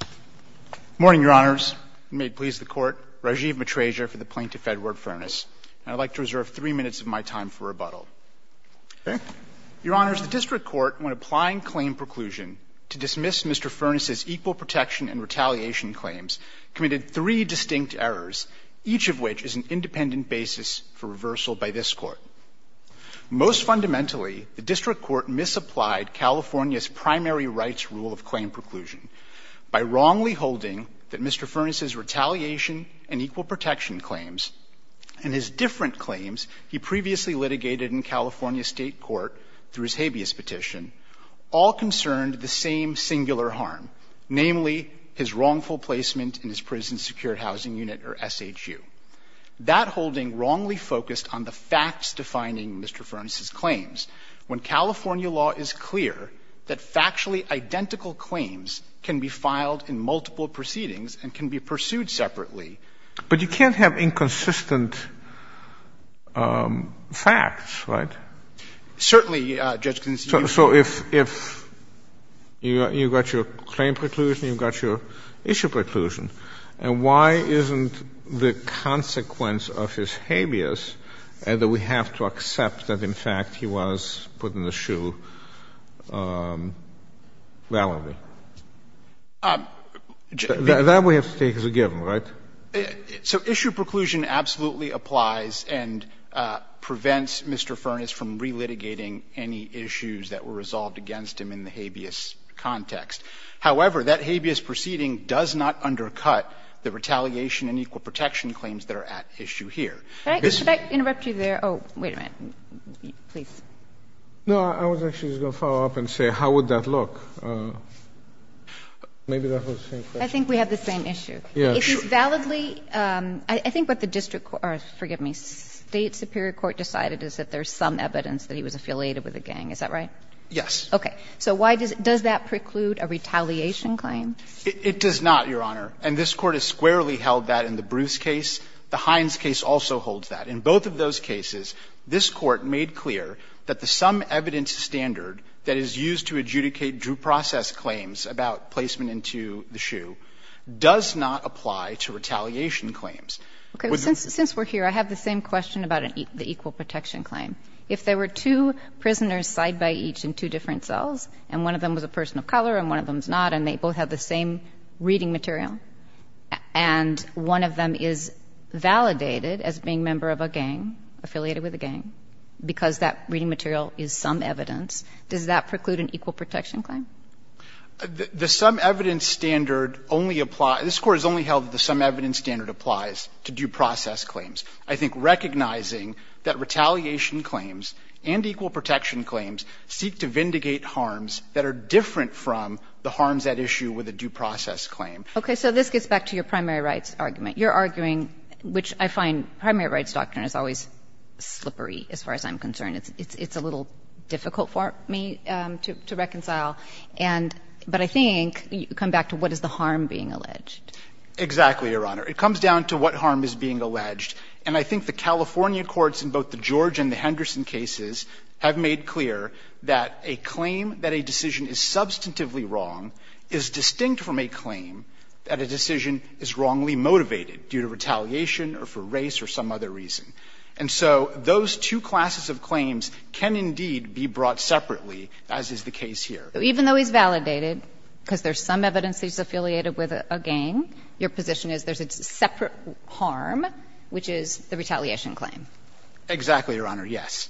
Good morning, Your Honors. May it please the Court, Rajiv Matreja for the Plaintiff-Edward Furnace, and I'd like to reserve three minutes of my time for rebuttal. Your Honors, the District Court, when applying claim preclusion to dismiss Mr. Furnace's equal protection and retaliation claims, committed three distinct errors, each of which is an independent basis for reversal by this Court. Most fundamentally, the District Court misapplied California's primary rights rule of claim preclusion by wrongly holding that Mr. Furnace's retaliation and equal protection claims and his different claims he previously litigated in California State court through his habeas petition all concerned the same singular harm, namely, his wrongful placement in his prison-secured housing unit, or SHU. That holding wrongly focused on the facts defining Mr. Furnace's claims. When California law is clear that factually identical claims can be filed in multiple proceedings and can be pursued separately. But you can't have inconsistent facts, right? Certainly, Judge Kagan. So if you've got your claim preclusion, you've got your issue preclusion, and why isn't the consequence of his habeas that we have to accept that, in fact, he was put in the SHU validly? That we have to take as a given, right? So issue preclusion absolutely applies and prevents Mr. Furnace from relitigating any issues that were resolved against him in the habeas context. However, that habeas proceeding does not undercut the retaliation and equal protection claims that are at issue here. This is the case. Should I interrupt you there? Oh, wait a minute. Please. No, I was actually just going to follow up and say how would that look? Maybe that was the same question. I think we have the same issue. Yes. Is this validly – I think what the district – or, forgive me, State superior court decided is that there's some evidence that he was affiliated with a gang. Is that right? Yes. Okay. So why does – does that preclude a retaliation claim? It does not, Your Honor. And this Court has squarely held that in the Bruce case. The Hines case also holds that. In both of those cases, this Court made clear that the sum evidence standard that is used to adjudicate due process claims about placement into the SHU does not apply to retaliation claims. Okay. Since we're here, I have the same question about the equal protection claim. If there were two prisoners side by each in two different cells, and one of them was a person of color and one of them is not, and they both have the same reading material, and one of them is validated as being a member of a gang, affiliated with a gang, because that reading material is sum evidence, does that preclude an equal protection claim? The sum evidence standard only applies – this Court has only held that the sum evidence standard applies to due process claims. I think recognizing that retaliation claims and equal protection claims seek to vindicate harms that are different from the harms at issue with a due process claim. Okay. So this gets back to your primary rights argument. You're arguing, which I find primary rights doctrine is always slippery as far as I'm concerned. It's a little difficult for me to reconcile. And – but I think you come back to what is the harm being alleged. Exactly, Your Honor. It comes down to what harm is being alleged, and I think the California courts in both the George and the Henderson cases have made clear that a claim that a decision is substantively wrong is distinct from a claim that a decision is wrongly motivated due to retaliation or for race or some other reason. And so those two classes of claims can indeed be brought separately, as is the case here. Even though he's validated, because there's some evidence he's affiliated with a gang, your position is there's a separate harm, which is the retaliation claim. Exactly, Your Honor, yes.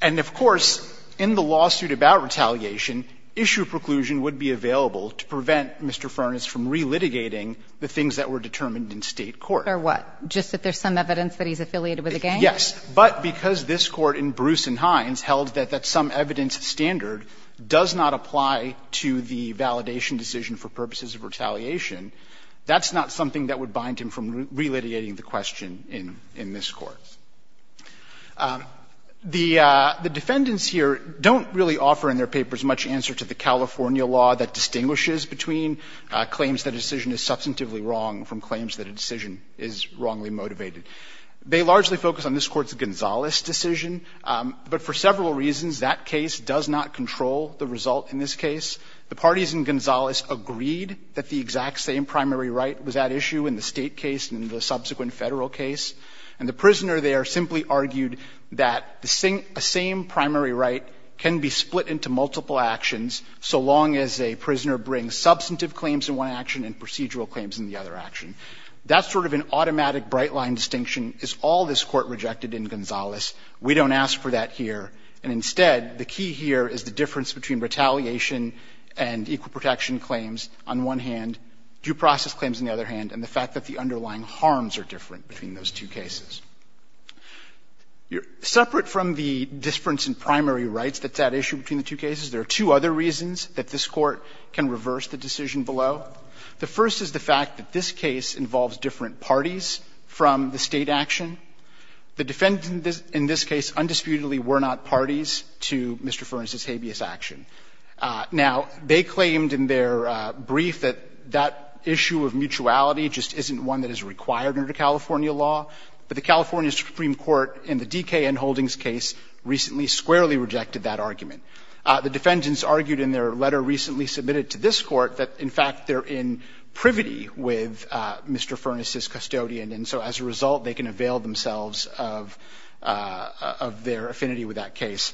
And of course, in the lawsuit about retaliation, issue preclusion would be available to prevent Mr. Furness from relitigating the things that were determined in State court. Or what? Just that there's some evidence that he's affiliated with a gang? Yes. But because this Court in Bruce and Hines held that that some evidence standard does not apply to the validation decision for purposes of retaliation, that's not something that would bind him from relitigating the question in this Court. The defendants here don't really offer in their papers much answer to the California law that distinguishes between claims that a decision is substantively wrong from claims that a decision is wrongly motivated. They largely focus on this Court's Gonzales decision, but for several reasons, that case does not control the result in this case. The parties in Gonzales agreed that the exact same primary right was at issue in the State case and in the subsequent Federal case. And the prisoner there simply argued that the same primary right can be split into multiple actions so long as a prisoner brings substantive claims in one action and procedural claims in the other action. That sort of an automatic bright-line distinction is all this Court rejected in Gonzales. We don't ask for that here. And instead, the key here is the difference between retaliation and equal protection claims on one hand, due process claims on the other hand, and the fact that the underlying harms are different between those two cases. Separate from the difference in primary rights that's at issue between the two cases, there are two other reasons that this Court can reverse the decision below. The first is the fact that this case involves different parties from the State action. The defendants in this case undisputedly were not parties to Mr. Furness's habeas action. Now, they claimed in their brief that that issue of mutuality just isn't one that is required under California law, but the California Supreme Court in the D.K. N. Holdings case recently squarely rejected that argument. The defendants argued in their letter recently submitted to this Court that, in fact, they're in privity with Mr. Furness's custodian, and so as a result, they can avail themselves of their affinity with that case.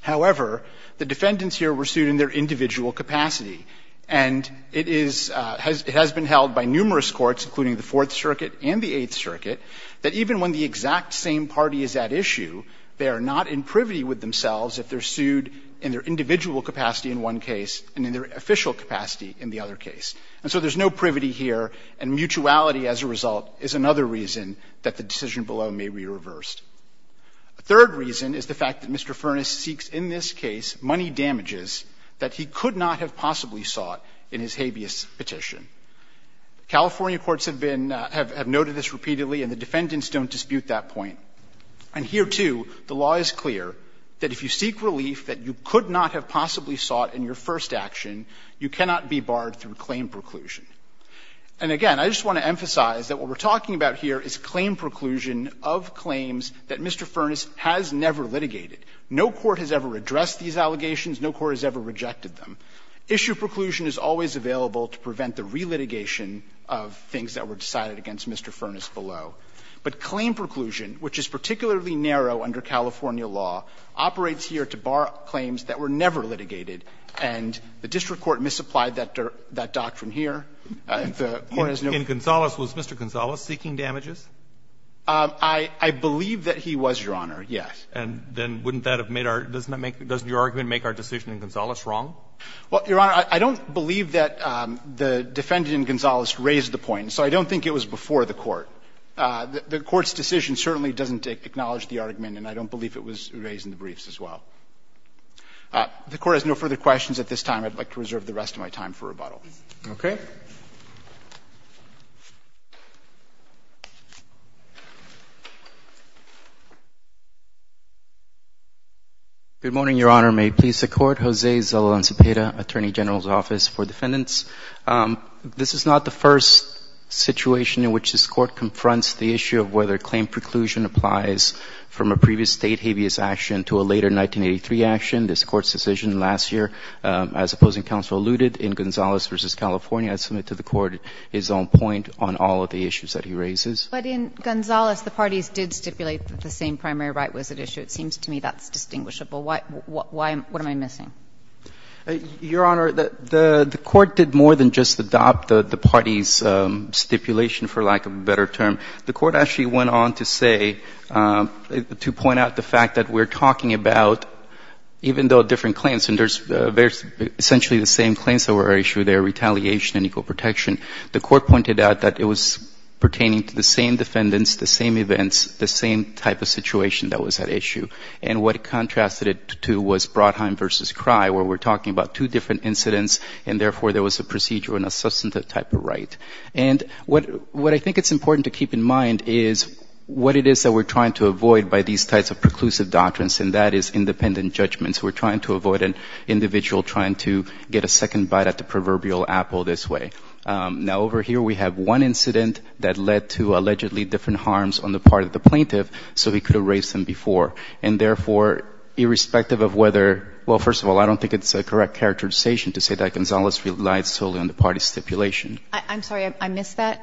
However, the defendants here were sued in their individual capacity, and it is – it has been held by numerous courts, including the Fourth Circuit and the Eighth Circuit, that even when the exact same party is at issue, they are not in privity with themselves if they're sued in their individual capacity in one case and in their official capacity in the other case. And so there's no privity here, and mutuality as a result is another reason that the decision below may be reversed. A third reason is the fact that Mr. Furness seeks in this case money damages that he could not have possibly sought in his habeas petition. California courts have been – have noted this repeatedly, and the defendants don't dispute that point. And here, too, the law is clear that if you seek relief that you could not have possibly sought in your first action, you cannot be barred through claim preclusion. And, again, I just want to emphasize that what we're talking about here is claim preclusion of claims that Mr. Furness has never litigated. No court has ever addressed these allegations. No court has ever rejected them. Issue preclusion is always available to prevent the relitigation of things that were decided against Mr. Furness below. But claim preclusion, which is particularly narrow under California law, operates here to bar claims that were never litigated, and the district court misapplied that doctrine here. If the court has no ---- Roberts, was Mr. Gonzales seeking damages? I believe that he was, Your Honor, yes. And then wouldn't that have made our – doesn't that make – doesn't your argument make our decision in Gonzales wrong? Well, Your Honor, I don't believe that the defendant in Gonzales raised the point, so I don't think it was before the court. The court's decision certainly doesn't acknowledge the argument, and I don't believe it was raised in the briefs as well. If the court has no further questions at this time, I'd like to reserve the rest of my time for rebuttal. Okay. Good morning, Your Honor. May it please the Court. Jose Zolil and Cepeda, Attorney General's Office for Defendants. This is not the first situation in which this Court confronts the issue of whether a previous State habeas action to a later 1983 action. This Court's decision last year, as Opposing Counsel alluded, in Gonzales v. California, I submit to the Court his own point on all of the issues that he raises. But in Gonzales, the parties did stipulate that the same primary right was at issue. It seems to me that's distinguishable. Why – what am I missing? Your Honor, the Court did more than just adopt the party's stipulation, for lack of a better term. The Court actually went on to say – to point out the fact that we're talking about, even though different claims – and there's essentially the same claims that were at issue there, retaliation and equal protection. The Court pointed out that it was pertaining to the same defendants, the same events, the same type of situation that was at issue. And what it contrasted it to was Brodheim v. Cry, where we're talking about two different incidents, and therefore there was a procedure and a substantive type of right. And what I think it's important to keep in mind is what it is that we're trying to avoid by these types of preclusive doctrines, and that is independent judgments. We're trying to avoid an individual trying to get a second bite at the proverbial apple this way. Now, over here, we have one incident that led to allegedly different harms on the part of the plaintiff, so he could have raised them before. And therefore, irrespective of whether – well, first of all, I don't think it's a correct characterization to say that Gonzales relied solely on the party's stipulation. I'm sorry, I missed that.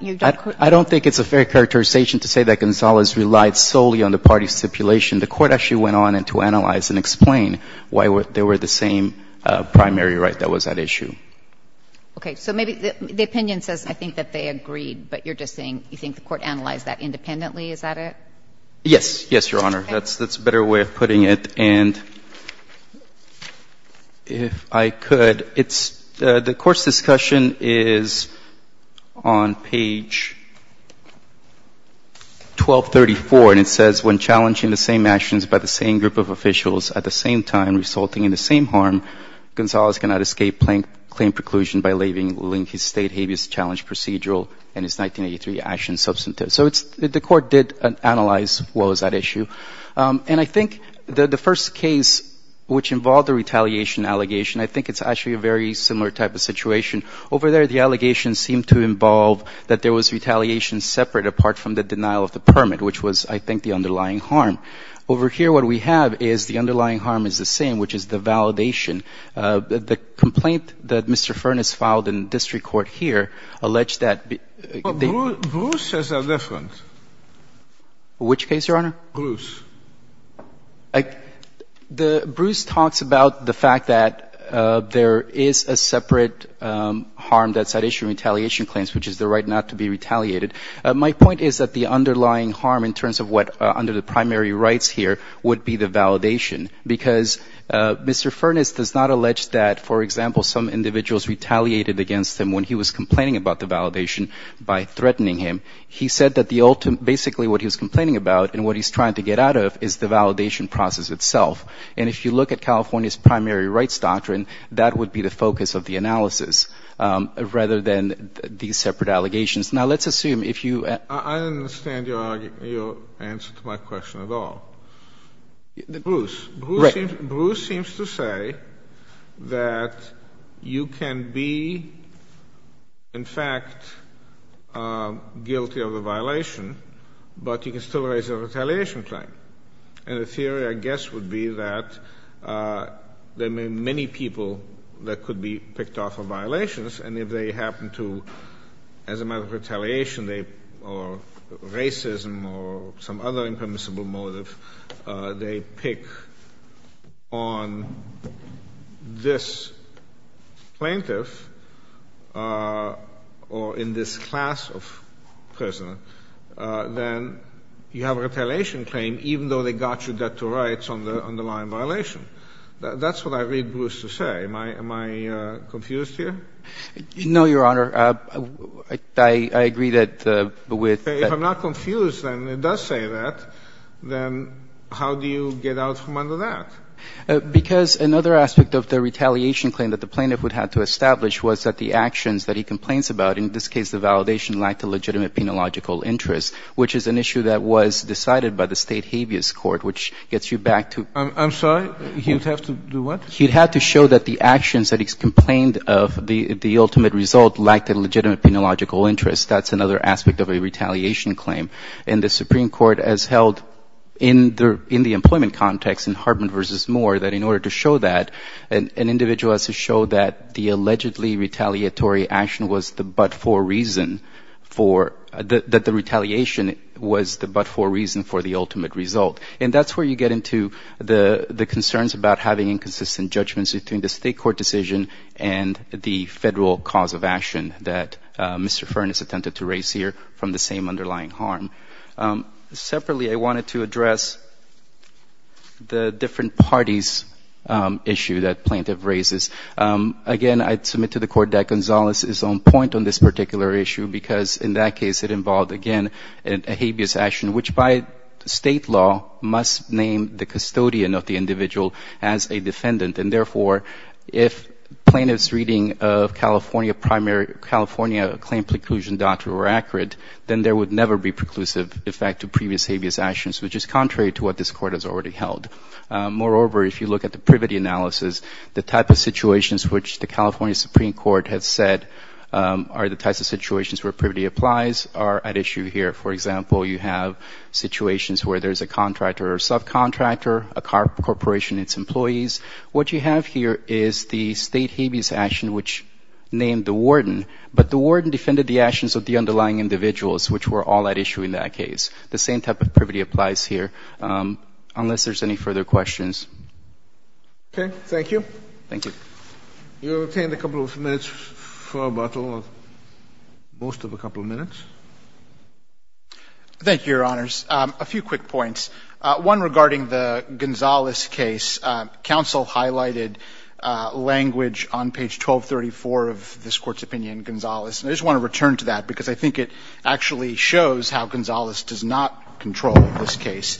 I don't think it's a fair characterization to say that Gonzales relied solely on the party's stipulation. The Court actually went on to analyze and explain why they were the same primary right that was at issue. Okay. So maybe the opinion says I think that they agreed, but you're just saying you think the Court analyzed that independently, is that it? Yes. Yes, Your Honor. That's a better way of putting it. And if I could, it's – the Court's discussion is on page 1234, and it says, when challenging the same actions by the same group of officials at the same time resulting in the same harm, Gonzales cannot escape plaintiff claim preclusion by leaving link his state habeas challenge procedural and his 1983 action substantive. So it's – the Court did analyze what was at issue. And I think the first case which involved a retaliation allegation, I think it's actually a very similar type of situation. Over there, the allegation seemed to involve that there was retaliation separate apart from the denial of the permit, which was, I think, the underlying harm. Over here, what we have is the underlying harm is the same, which is the validation. The complaint that Mr. Furness filed in district court here alleged that they – Bruce has a reference. Which case, Your Honor? Bruce. Bruce talks about the fact that there is a separate harm that's at issue in retaliation claims, which is the right not to be retaliated. My point is that the underlying harm in terms of what – under the primary rights here would be the validation. Because Mr. Furness does not allege that, for example, some individuals retaliated against him when he was complaining about the validation by threatening him. He said that the ultimate – basically what he was complaining about and what he's trying to get out of is the validation process itself. And if you look at California's primary rights doctrine, that would be the focus of the analysis rather than these separate allegations. Now, let's assume if you – I don't understand your answer to my question at all. Bruce. Right. that you can be, in fact, guilty of a violation, but you can still raise a retaliation claim. And the theory, I guess, would be that there may be many people that could be picked off of violations, and if they happen to, as a matter of retaliation, they – or racism or some other impermissible motive, they pick on this plaintiff or in this class of prisoner, then you have a retaliation claim, even though they got you debt to rights on the underlying violation. That's what I read Bruce to say. Am I confused here? I agree that with the – If I'm not confused and it does say that, then how do you get out from under that? Because another aspect of the retaliation claim that the plaintiff would have to establish was that the actions that he complains about, in this case the validation, lacked a legitimate penological interest, which is an issue that was decided by the state habeas court, which gets you back to – I'm sorry? He would have to do what? He would have to show that the actions that he complained of, the ultimate result, lacked a legitimate penological interest. That's another aspect of a retaliation claim. And the Supreme Court has held in the employment context in Hartman v. Moore that in order to show that, an individual has to show that the allegedly retaliatory action was the but-for reason for – that the retaliation was the but-for reason for the ultimate result. And that's where you get into the concerns about having inconsistent judgments between the state court decision and the federal cause of action that Mr. Fern has attempted to raise here from the same underlying harm. Separately, I wanted to address the different parties issue that plaintiff raises. Again, I'd submit to the Court that Gonzalez is on point on this particular issue because in that case it involved, again, a habeas action, which by state law must name the custodian of the individual as a defendant. And therefore, if plaintiff's reading of California primary – California claim preclusion doctrine were accurate, then there would never be preclusive effect to previous habeas actions, which is contrary to what this Court has already held. Moreover, if you look at the privity analysis, the type of situations which the California Supreme Court has said are the types of situations where privity applies are at issue here. For example, you have situations where there's a contractor or subcontractor, a corporation and its employees. What you have here is the state habeas action, which named the warden, but the warden defended the actions of the underlying individuals, which were all at issue in that case. The same type of privity applies here, unless there's any further questions. Okay. Thank you. Thank you. You have obtained a couple of minutes for rebuttal, or most of a couple of minutes. Thank you, Your Honors. A few quick points. One regarding the Gonzales case. Counsel highlighted language on page 1234 of this Court's opinion in Gonzales. And I just want to return to that, because I think it actually shows how Gonzales does not control this case.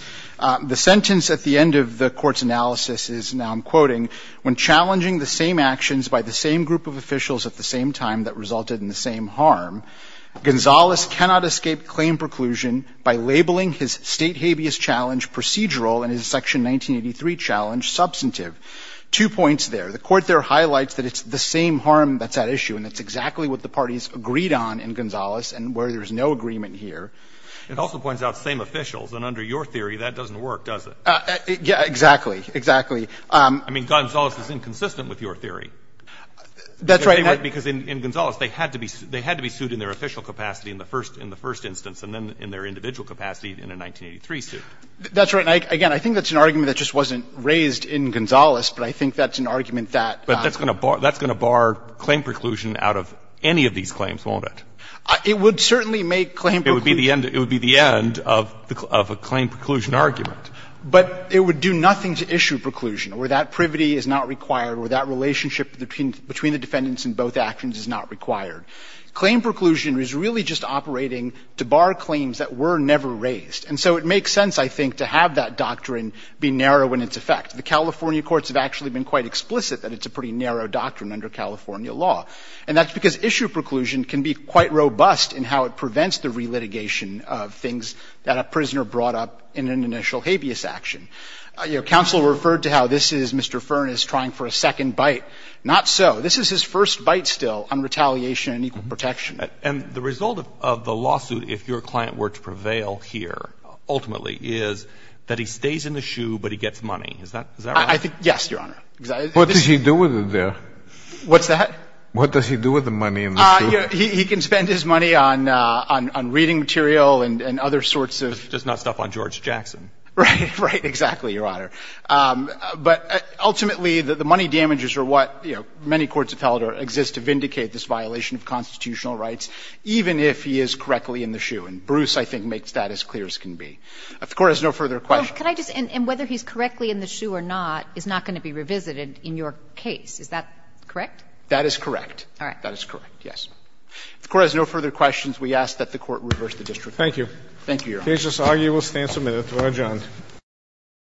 It also points out same officials, and under your theory, that doesn't work, does it? Exactly. Exactly. I mean, Gonzales is inconsistent with your theory. That's right. Because in Gonzales, they had to be sued in their official capacity in the first instance, and then in their individual capacity in a 1983 suit. That's right. And again, I think that's an argument that just wasn't raised in Gonzales, but I think that's an argument that that's going to bar claim preclusion out of any of these claims, won't it? It would certainly make claim preclusion. It would be the end of a claim preclusion argument. But it would do nothing to issue preclusion, or that privity is not required, or that relationship between the defendants in both actions is not required. Claim preclusion is really just operating to bar claims that were never raised. And so it makes sense, I think, to have that doctrine be narrow in its effect. The California courts have actually been quite explicit that it's a pretty narrow doctrine under California law. And that's because issue preclusion can be quite robust in how it prevents the relitigation of things that a prisoner brought up in an initial habeas action. You know, counsel referred to how this is Mr. Fern is trying for a second bite. Not so. This is his first bite still on retaliation and equal protection. And the result of the lawsuit, if your client were to prevail here, ultimately, is that he stays in the shoe, but he gets money. Is that right? I think, yes, Your Honor. What does he do with it there? What's that? What does he do with the money in the shoe? He can spend his money on reading material and other sorts of. Just not stuff on George Jackson. Right, exactly, Your Honor. But ultimately, the money damages are what many courts have held exist to vindicate this violation of constitutional rights, even if he is correctly in the shoe. And Bruce, I think, makes that as clear as can be. If the Court has no further questions. And whether he's correctly in the shoe or not is not going to be revisited in your case. Is that correct? That is correct. All right. That is correct, yes. If the Court has no further questions, we ask that the Court reverse the district order. Thank you. Thank you, Your Honor. Cage-Lasagna will stand submitted. We'll adjourn.